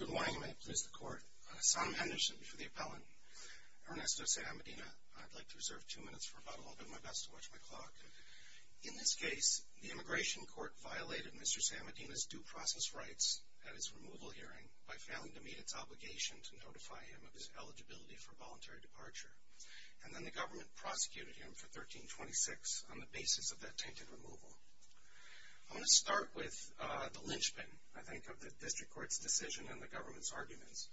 Good morning. May it please the Court. Sam Henderson for the appellant. Ernesto Sam Medina. I'd like to reserve two minutes for about a little bit of my best to watch my clock. In this case, the Immigration Court violated Mr. Sam Medina's due process rights at his removal hearing by failing to meet its obligation to notify him of his eligibility for voluntary departure. And then the government prosecuted him for 1326 on the basis of that tainted removal. I want to start with the lynchpin, I think, of the District Court's decision and the government's arguments,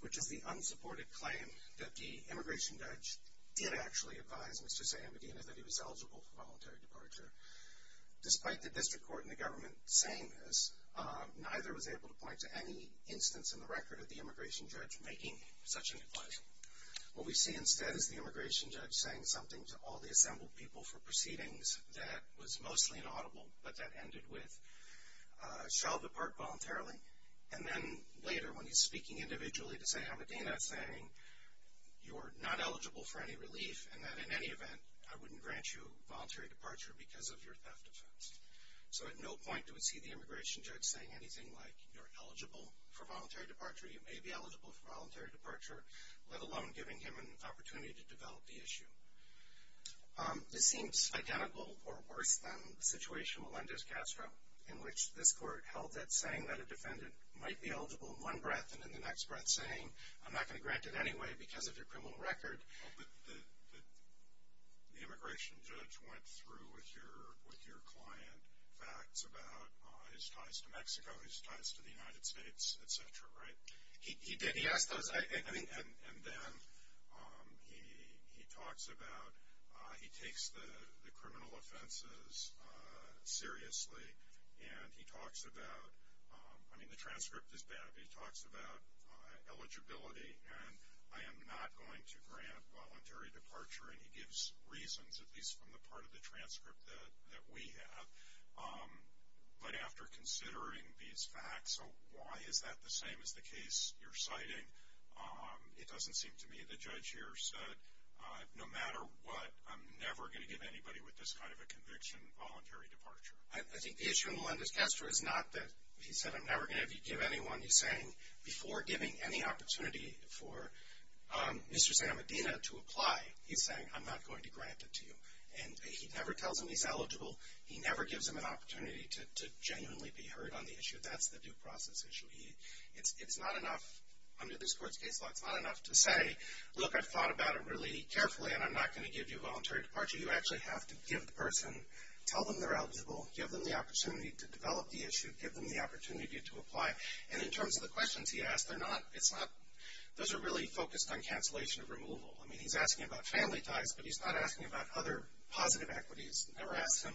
which is the unsupported claim that the immigration judge did actually advise Mr. Sam Medina that he was eligible for voluntary departure. Despite the District Court and the government saying this, neither was able to point to any instance in the record of the immigration judge making such an advice. What we see instead is the immigration judge saying something to all the assembled people for proceedings that was mostly inaudible but that ended with, shall depart voluntarily. And then later, when he's speaking individually to Sam Medina, saying you're not eligible for any relief and that in any event I wouldn't grant you voluntary departure because of your theft offense. So at no point do we see the immigration judge saying anything like you're eligible for voluntary departure, you may be eligible for voluntary departure, let alone giving him an opportunity to develop the issue. This seems identical or worse than the situation with Melendez Castro, in which this court held that saying that a defendant might be eligible in one breath and in the next breath saying I'm not going to grant it anyway because of your criminal record. But the immigration judge went through with your client facts about his ties to Mexico, his ties to the United States, et cetera, right? He did. He asked those. And then he talks about, he takes the criminal offenses seriously and he talks about, I mean the transcript is bad, but he talks about eligibility and I am not going to grant voluntary departure. And he gives reasons, at least from the part of the transcript that we have. But after considering these facts, so why is that the same as the case you're citing? It doesn't seem to me the judge here said no matter what, I'm never going to give anybody with this kind of a conviction voluntary departure. I think the issue in Melendez Castro is not that he said I'm never going to give anyone. He's saying before giving any opportunity for Mr. Santa Medina to apply, he's saying I'm not going to grant it to you. And he never tells him he's eligible. He never gives him an opportunity to genuinely be heard on the issue. That's the due process issue. It's not enough under this court's case law, it's not enough to say, look, I've thought about it really carefully and I'm not going to give you voluntary departure. You actually have to give the person, tell them they're eligible, give them the opportunity to develop the issue, give them the opportunity to apply. And in terms of the questions he asked, those are really focused on cancellation of removal. I mean, he's asking about family ties, but he's not asking about other positive equities. Never ask him,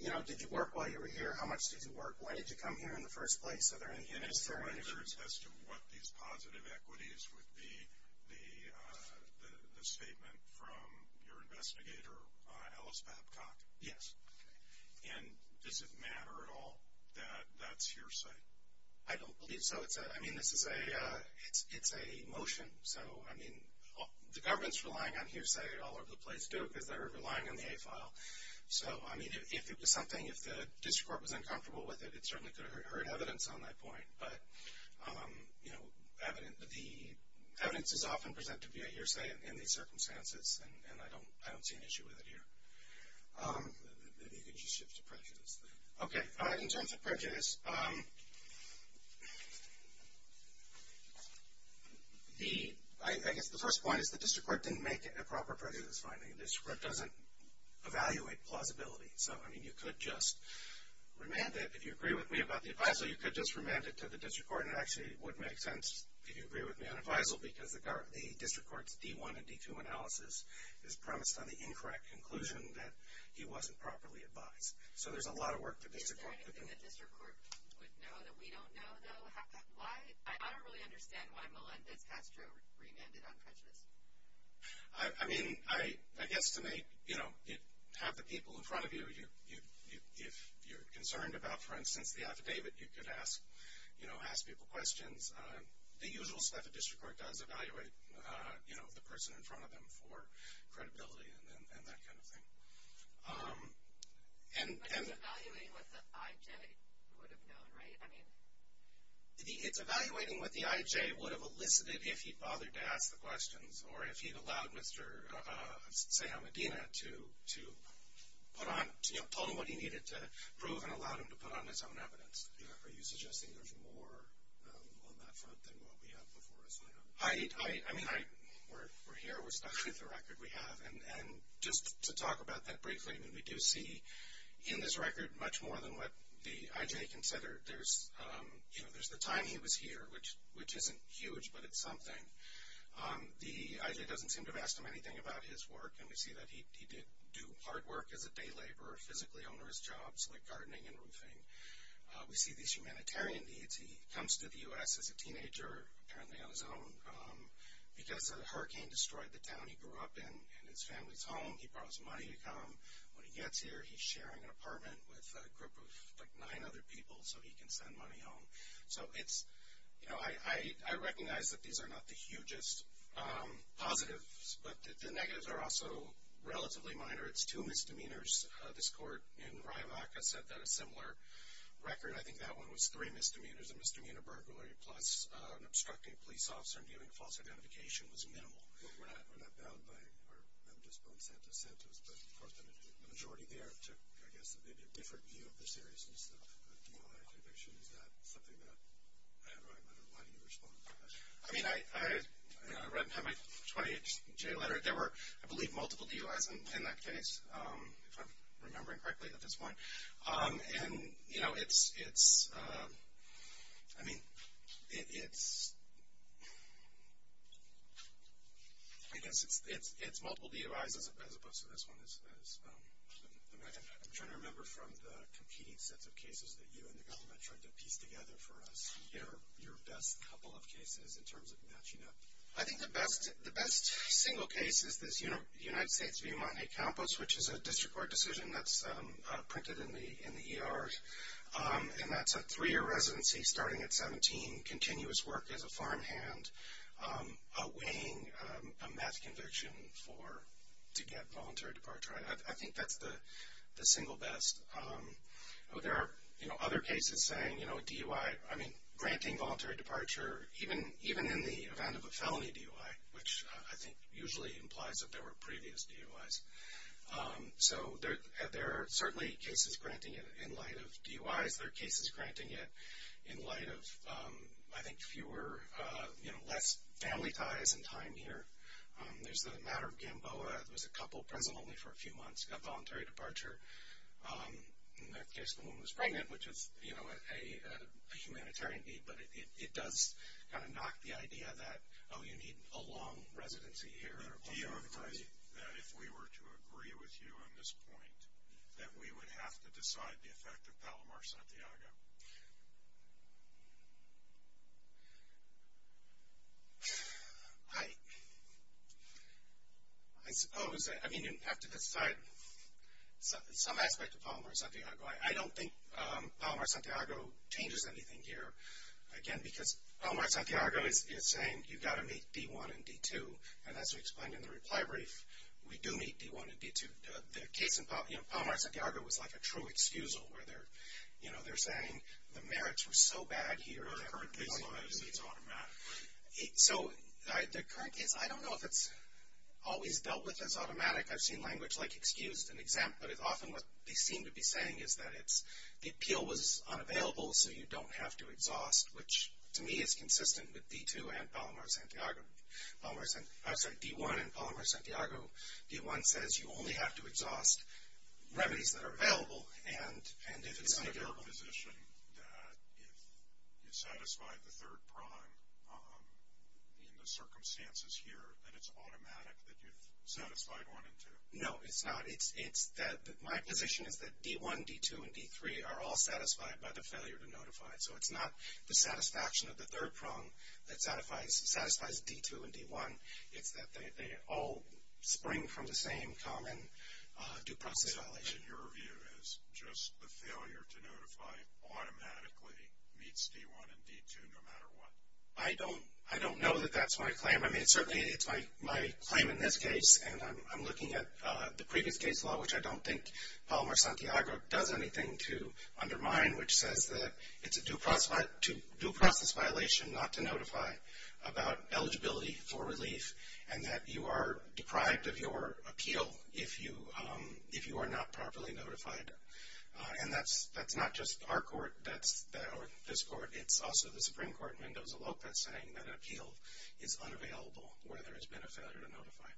you know, did you work while you were here? How much did you work? Why did you come here in the first place? And as far as what these positive equities would be, the statement from your investigator, Alice Babcock. Yes. And does it matter at all that that's hearsay? I don't believe so. I mean, this is a motion. So, I mean, the government's relying on hearsay all over the place, too, because they're relying on the A file. So, I mean, if it was something, if the district court was uncomfortable with it, it certainly could have heard evidence on that point. But, you know, evidence is often presented via hearsay in these circumstances, and I don't see an issue with it here. Maybe you could just shift to prejudice. Okay. In terms of prejudice, I guess the first point is the district court didn't make a proper prejudice finding. The district court doesn't evaluate plausibility. So, I mean, you could just remand it. If you agree with me about the advisal, you could just remand it to the district court, and it actually would make sense if you agree with me on the advisal, because the district court's D1 and D2 analysis is premised on the incorrect conclusion that he wasn't properly advised. So, there's a lot of work for the district court to do. Is there anything the district court would know that we don't know, though? I don't really understand why Melendez-Castro remanded on prejudice. I mean, I guess to have the people in front of you, if you're concerned about, for instance, the affidavit, you could ask people questions. The usual stuff, the district court does evaluate the person in front of them for credibility and that kind of thing. But it's evaluating what the I.J. would have known, right? It's evaluating what the I.J. would have elicited if he bothered to ask the questions or if he'd allowed Mr. Seyamadina to put on, you know, told him what he needed to prove and allowed him to put on his own evidence. Are you suggesting there's more on that front than what we have before us right now? I mean, we're here, we're stuck with the record we have. And just to talk about that briefly, we do see in this record much more than what the I.J. considered. There's the time he was here, which isn't huge, but it's something. The I.J. doesn't seem to have asked him anything about his work, and we see that he did do hard work as a day laborer, physically on his jobs, like gardening and roofing. We see these humanitarian needs. He comes to the U.S. as a teenager, apparently on his own, because a hurricane destroyed the town he grew up in and his family's home. He borrows money to come. When he gets here, he's sharing an apartment with a group of, like, nine other people. So he can send money home. So it's, you know, I recognize that these are not the hugest positives, but the negatives are also relatively minor. It's two misdemeanors. This court in Riavaca said that a similar record, I think that one was three misdemeanors, a misdemeanor burglary plus an obstructing police officer and giving false identification was minimal. Well, we're not bound by, or I'm just on Santa's sentence, but of course the majority there took, I guess, maybe a different view of the seriousness of dual identification. Is that something that, I don't know, why do you respond to that? I mean, I read in my 20-H.J. letter, there were, I believe, multiple DUIs in that case, if I'm remembering correctly at this point. And, you know, it's, I mean, it's, I guess it's multiple DUIs as opposed to this one. I'm trying to remember from the competing sets of cases that you and the government tried to piece together for us, your best couple of cases in terms of matching up. I think the best single case is this United States v. Montecampos, which is a district court decision that's printed in the ER. And that's a three-year residency starting at 17, continuous work as a farmhand, weighing a meth conviction to get voluntary departure. I think that's the single best. There are, you know, other cases saying, you know, DUI, I mean, granting voluntary departure, even in the event of a felony DUI, which I think usually implies that there were previous DUIs. So there are certainly cases granting it in light of DUIs. There are cases granting it in light of, I think, fewer, you know, less family ties and time here. There's the matter of Gamboa. There was a couple present only for a few months, got voluntary departure. In that case, the woman was pregnant, which is, you know, a humanitarian need. But it does kind of knock the idea that, oh, you need a long residency here. But do you agree that if we were to agree with you on this point, that we would have to decide the effect of Palomar-Santiago? I suppose. I mean, you'd have to decide some aspect of Palomar-Santiago. I don't think Palomar-Santiago changes anything here, again, because Palomar-Santiago is saying you've got to meet D-1 and D-2. And as we explained in the reply brief, we do meet D-1 and D-2. The case in Palomar-Santiago was like a true excusal where they're, you know, they're saying the merits were so bad here. So the current case, I don't know if it's always dealt with as automatic. I've seen language like excused and exempt. But often what they seem to be saying is that the appeal was unavailable, so you don't have to exhaust, which to me is consistent with D-2 and Palomar-Santiago. I'm sorry, D-1 and Palomar-Santiago. D-1 says you only have to exhaust remedies that are available. And if it's unavailable. Is it your position that if you satisfy the third prime in the circumstances here, that it's automatic that you've satisfied one and two? No, it's not. It's that my position is that D-1, D-2, and D-3 are all satisfied by the failure to notify. So it's not the satisfaction of the third prime that satisfies D-2 and D-1. It's that they all spring from the same common due process violation. So your view is just the failure to notify automatically meets D-1 and D-2 no matter what? I don't know that that's my claim. I mean, certainly it's my claim in this case. And I'm looking at the previous case law, which I don't think Palomar-Santiago does anything to undermine, which says that it's a due process violation not to notify about eligibility for relief and that you are deprived of your appeal if you are not properly notified. And that's not just our court or this court. It's also the Supreme Court, Mendoza-Lopez, saying that an appeal is unavailable where there has been a failure to notify.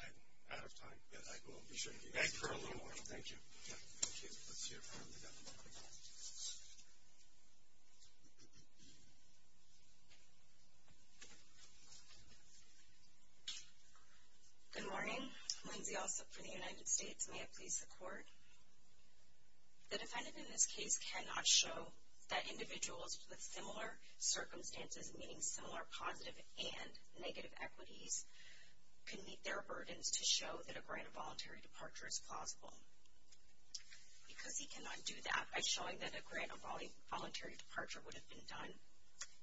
I'm out of time, but I will be sure to be back for a little while. Thank you. Good morning. Lindsay Alsop for the United States. May it please the Court. The defendant in this case cannot show that individuals with similar circumstances, meaning similar positive and negative equities, can meet their burdens to show that a grant of voluntary departure is plausible. Because he cannot do that by showing that a grant of voluntary departure would have been done,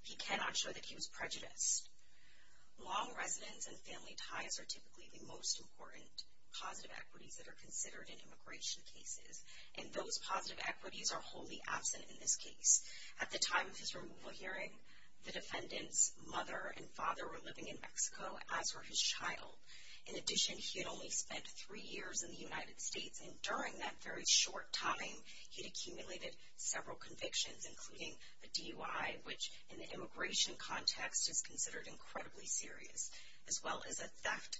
he cannot show that he was prejudiced. Long residence and family ties are typically the most important positive equities that are considered in immigration cases, and those positive equities are wholly absent in this case. At the time of his removal hearing, the defendant's mother and father were living in Mexico, as were his child. In addition, he had only spent three years in the United States, and during that very short time he had accumulated several convictions, including a DUI, which in the immigration context is considered incredibly serious, as well as a theft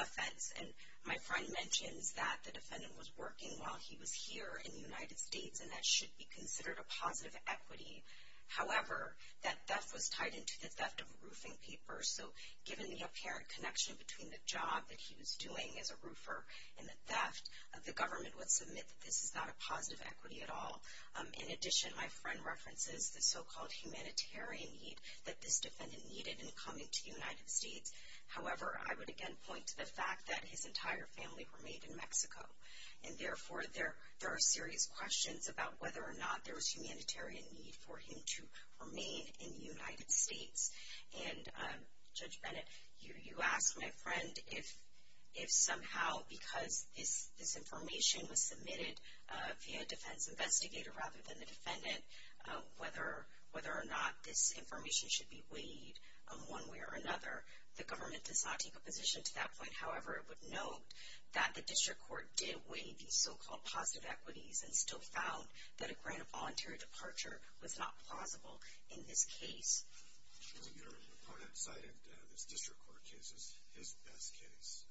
offense. And my friend mentions that the defendant was working while he was here in the United States, and that should be considered a positive equity. However, that theft was tied into the theft of roofing papers, so given the apparent connection between the job that he was doing as a roofer and the theft, the government would submit that this is not a positive equity at all. In addition, my friend references the so-called humanitarian need that this defendant needed in coming to the United States. However, I would again point to the fact that his entire family remained in Mexico, and therefore there are serious questions about whether or not there was humanitarian need for him to remain in the United States. And, Judge Bennett, you asked my friend if somehow because this information was submitted via a defense investigator rather than the defendant, whether or not this information should be weighed on one way or another. The government does not take a position to that point. However, it would note that the district court did weigh these so-called positive equities and still found that a grant of voluntary departure was not plausible in this case. Your opponent cited this district court case as his best case.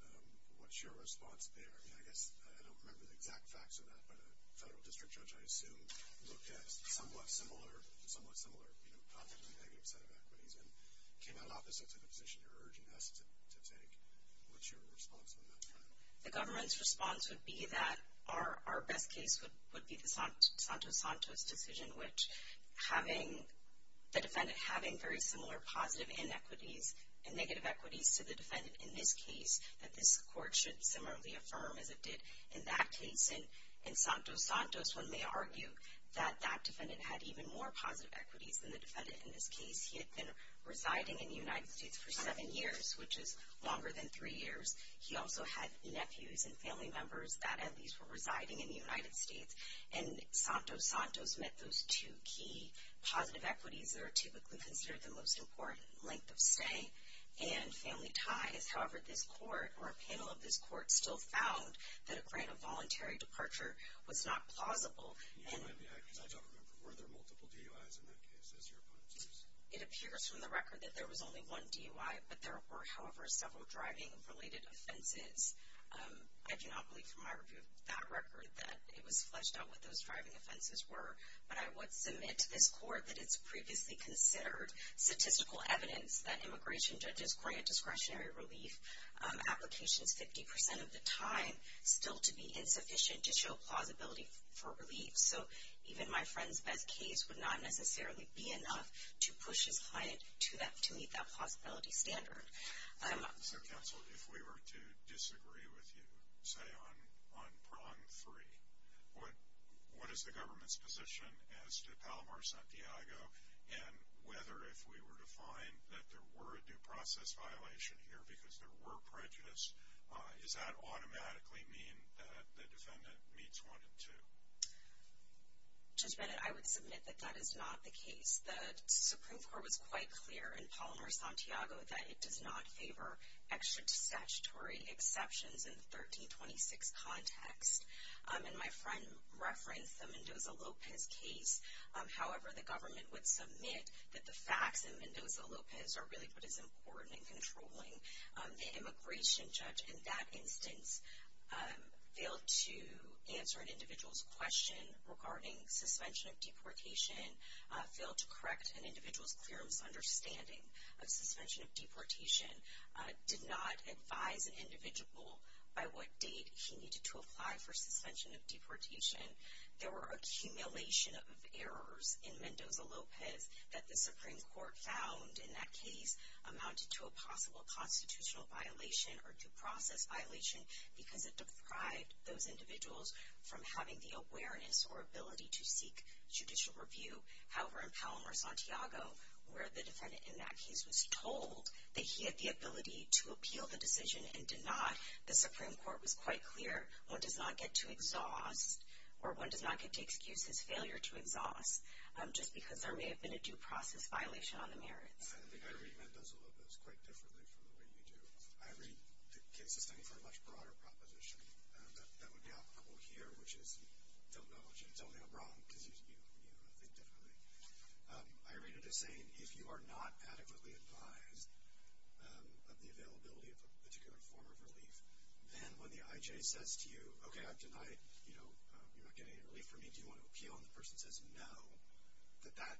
What's your response there? I mean, I guess I don't remember the exact facts of that, but a federal district judge, I assume, looked at a somewhat similar, you know, positively negative set of equities and came out opposite to the position you're urging us to take. What's your response on that front? The government's response would be that our best case would be the Santos-Santos decision, which having the defendant having very similar positive inequities and negative equities to the defendant in this case, that this court should similarly affirm as it did in that case. And in Santos-Santos, one may argue that that defendant had even more positive equities than the defendant in this case. He had been residing in the United States for seven years, which is longer than three years. He also had nephews and family members that at least were residing in the United States. And Santos-Santos met those two key positive equities that are typically considered the most important, length of stay and family ties. However, this court or a panel of this court still found that a grant of voluntary departure was not plausible. I don't remember. Were there multiple DUIs in that case, as your opponent says? It appears from the record that there was only one DUI, but there were, however, several driving-related offenses. I do not believe from my review of that record that it was fledged out what those driving offenses were. But I would submit to this court that it's previously considered statistical evidence that immigration judges grant discretionary relief applications 50% of the time still to be insufficient to show plausibility for relief. So even my friend's best case would not necessarily be enough to push his client to meet that plausibility standard. So, counsel, if we were to disagree with you, say, on prong three, what is the government's position as to Palomar-Santiago, and whether if we were to find that there were a due process violation here because there were prejudice, does that automatically mean that the defendant meets one and two? Just a minute. I would submit that that is not the case. The Supreme Court was quite clear in Palomar-Santiago that it does not favor extra-statutory exceptions in the 1326 context. And my friend referenced the Mendoza-Lopez case. However, the government would submit that the facts in Mendoza-Lopez are really what is important in controlling the immigration judge. In that instance, failed to answer an individual's question regarding suspension of deportation, failed to correct an individual's clear misunderstanding of suspension of deportation, did not advise an individual by what date he needed to apply for suspension of deportation. There were accumulation of errors in Mendoza-Lopez that the Supreme Court found in that case amounted to a possible constitutional violation or due process violation because it deprived those individuals from having the awareness or ability to seek judicial review. However, in Palomar-Santiago, where the defendant in that case was told that he had the ability to appeal the decision and did not, the Supreme Court was quite clear one does not get to exhaust or one does not get to excuse his failure to exhaust just because there may have been a due process violation on the merits. I think I read Mendoza-Lopez quite differently from the way you do. I read the case as standing for a much broader proposition. That would be applicable here, which is you don't know until you're wrong because you think differently. I read it as saying if you are not adequately advised of the availability of a particular form of relief, then when the I.J. says to you, okay, I've denied, you know, you're not getting any relief from me, do you want to appeal? And the person says no, that that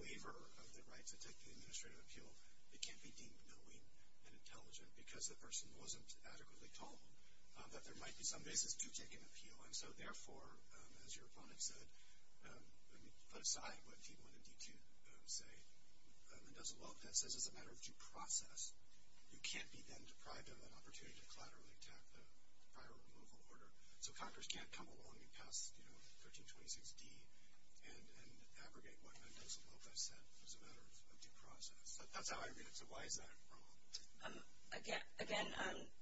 waiver of the right to take the administrative appeal, it can't be deemed knowing and intelligent because the person wasn't adequately told that there might be some basis to take an appeal. And so, therefore, as your opponent said, put aside what D-1 and D-2 say, Mendoza-Lopez, as a matter of due process, you can't be then deprived of an opportunity to collaterally tap the prior removal order. So Congress can't come along and pass, you know, 1326D and abrogate what Mendoza-Lopez said as a matter of due process. That's how I read it. So why is that wrong? Again,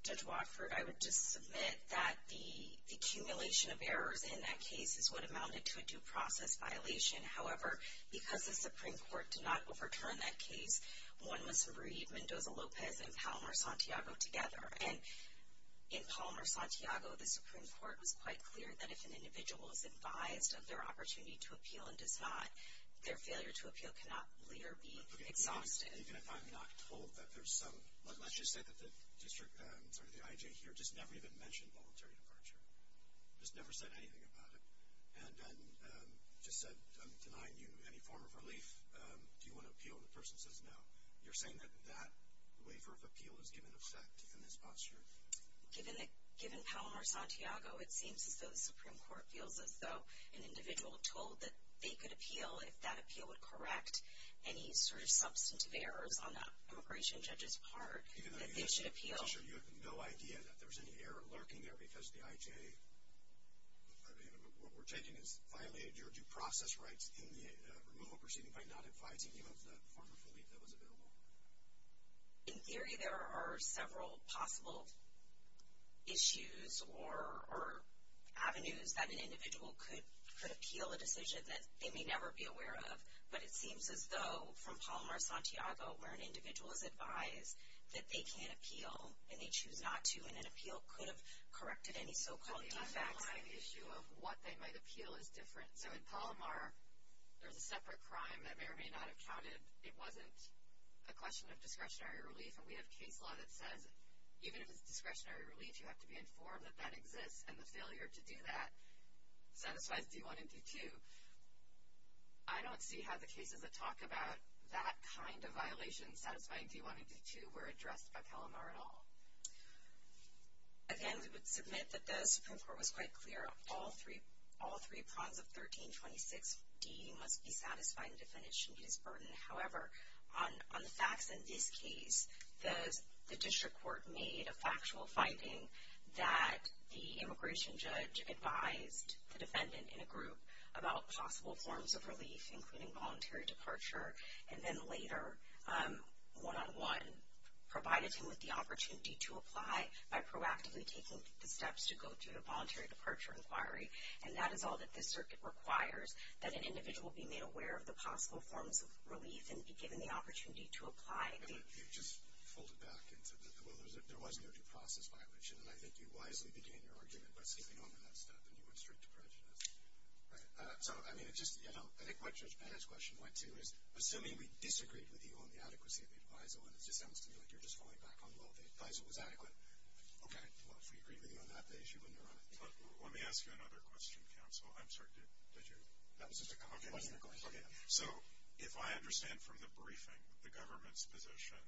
Judge Watford, I would just submit that the accumulation of errors in that case is what amounted to a due process violation. However, because the Supreme Court did not overturn that case, one must read Mendoza-Lopez and Palomar-Santiago together. And in Palomar-Santiago, the Supreme Court was quite clear that if an individual is advised of their opportunity to appeal and does not, their failure to appeal cannot be exhausted. Even if I'm not told that there's some, let's just say that the district, sorry, the IJ here just never even mentioned voluntary departure, just never said anything about it, and then just said, I'm denying you any form of relief, do you want to appeal? And the person says no. You're saying that that waiver of appeal is given effect in this posture? Given Palomar-Santiago, it seems as though the Supreme Court feels as though an individual told that they could appeal if that appeal would correct any sort of substantive errors on the immigration judge's part that they should appeal. Even though you have no idea that there's any error lurking there because the IJ, what we're taking is violated your due process rights in the removal proceeding by not advising you of the form of relief that was available. In theory, there are several possible issues or avenues that an individual could appeal a decision that they may never be aware of, but it seems as though from Palomar-Santiago, where an individual is advised that they can appeal and they choose not to, and an appeal could have corrected any so-called defects. But the underlying issue of what they might appeal is different. So in Palomar, there's a separate crime that may or may not have counted. It wasn't a question of discretionary relief, and we have case law that says even if it's discretionary relief, you have to be informed that that exists, and the failure to do that satisfies D-1 and D-2. I don't see how the cases that talk about that kind of violation satisfying D-1 and D-2 were addressed by Palomar at all. Again, we would submit that the Supreme Court was quite clear. All three prongs of 1326D must be satisfied in definition of his burden. However, on the facts in this case, the district court made a factual finding that the immigration judge advised the defendant in a group about possible forms of relief, including voluntary departure, and then later, one-on-one, provided him with the opportunity to apply by proactively taking the steps to go to a voluntary departure inquiry. And that is all that this circuit requires, that an individual be made aware of the possible forms of relief and be given the opportunity to apply. You just folded back and said that there was no due process violation, and I think you wisely began your argument by sleeping on that stuff, and you went straight to prejudice. Right. So, I mean, I think what Judge Bennett's question went to is, assuming we disagreed with you on the adequacy of the adviso, and it just sounds to me like you're just falling back on, well, the adviso was adequate. Okay. Well, if we agreed with you on that, the issue wouldn't arise. Let me ask you another question, counsel. I'm sorry, did you? That was just a comment. Okay. So, if I understand from the briefing, the government's position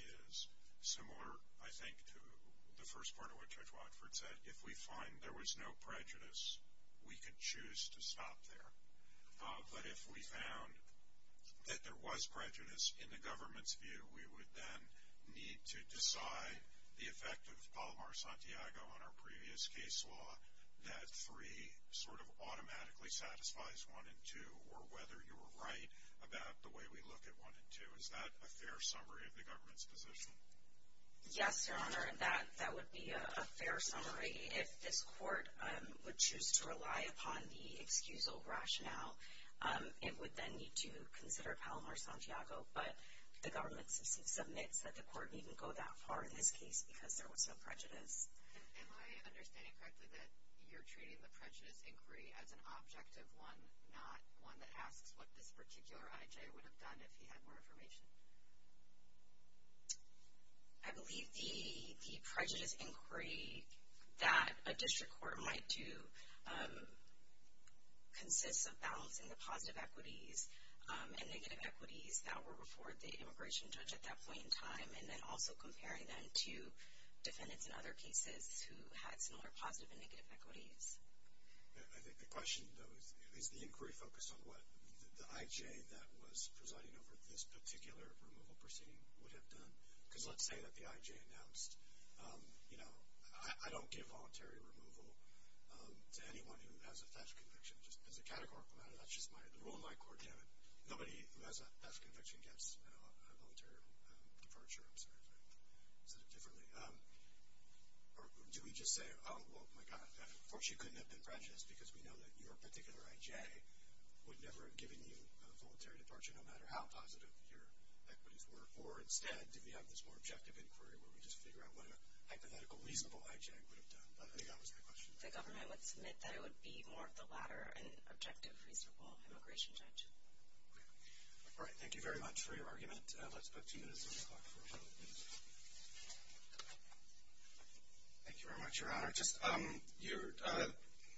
is similar, I think, to the first part of what Judge Watford said. That if we find there was no prejudice, we could choose to stop there. But if we found that there was prejudice in the government's view, we would then need to decide the effect of Palomar-Santiago on our previous case law, that three sort of automatically satisfies one and two, or whether you were right about the way we look at one and two. Is that a fair summary of the government's position? Yes, Your Honor, that would be a fair summary. If this court would choose to rely upon the excusal rationale, it would then need to consider Palomar-Santiago. But the government submits that the court needn't go that far in this case because there was no prejudice. Am I understanding correctly that you're treating the prejudice inquiry as an objective one, not one that asks what this particular I.J. would have done if he had more information? I believe the prejudice inquiry that a district court might do consists of balancing the positive equities and negative equities that were before the immigration judge at that point in time, and then also comparing them to defendants in other cases who had similar positive and negative equities. I think the question, though, is the inquiry focused on what the I.J. that was presiding over this particular removal proceeding would have done? Because let's say that the I.J. announced, you know, I don't give voluntary removal to anyone who has a theft conviction. Just as a categorical matter, that's just the rule in my court. Nobody who has a theft conviction gets a voluntary departure. I'm sorry if I said it differently. Do we just say, oh, well, my God, of course you couldn't have been prejudiced because we know that your particular I.J. would never have given you a voluntary departure, no matter how positive your equities were? Or instead, do we have this more objective inquiry where we just figure out what a hypothetical, reasonable I.J. would have done? I think that was my question. The government would submit that it would be more of the latter, an objective, reasonable immigration judge. All right, thank you very much for your argument. Let's go to you, Mr. Spock, for a moment, please. Thank you very much, Your Honor.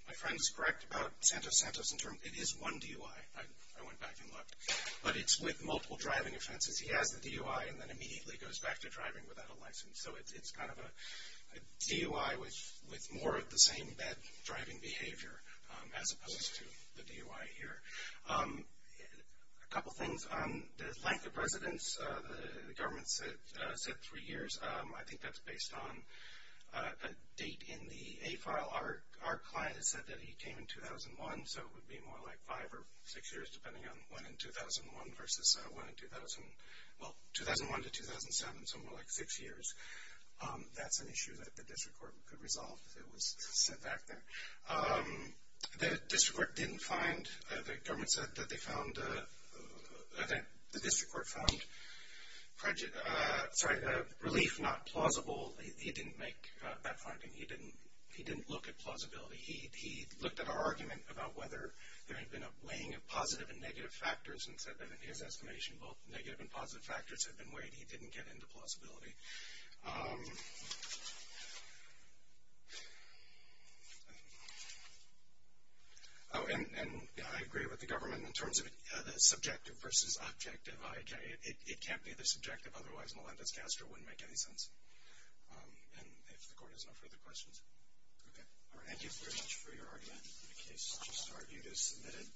My friend is correct about Santos Santos. It is one DUI. I went back and looked. But it's with multiple driving offenses. He has the DUI and then immediately goes back to driving without a license. So it's kind of a DUI with more of the same bad driving behavior as opposed to the DUI here. A couple things on the length of residence. The government said three years. I think that's based on a date in the A file. Our client has said that he came in 2001. So it would be more like five or six years, depending on when in 2001 versus when in 2000. Well, 2001 to 2007, so more like six years. That's an issue that the district court could resolve if it was set back there. The district court didn't find. The government said that the district court found relief not plausible. He didn't make that finding. He didn't look at plausibility. He looked at our argument about whether there had been a weighing of positive and negative factors and said that, in his estimation, both negative and positive factors had been weighed. He didn't get into plausibility. And I agree with the government in terms of the subjective versus objective. It can't be the subjective. Otherwise, Melendez-Castro wouldn't make any sense. And if the court has no further questions. Okay. All right. Thank you very much for your argument. In any case, such an argument is submitted.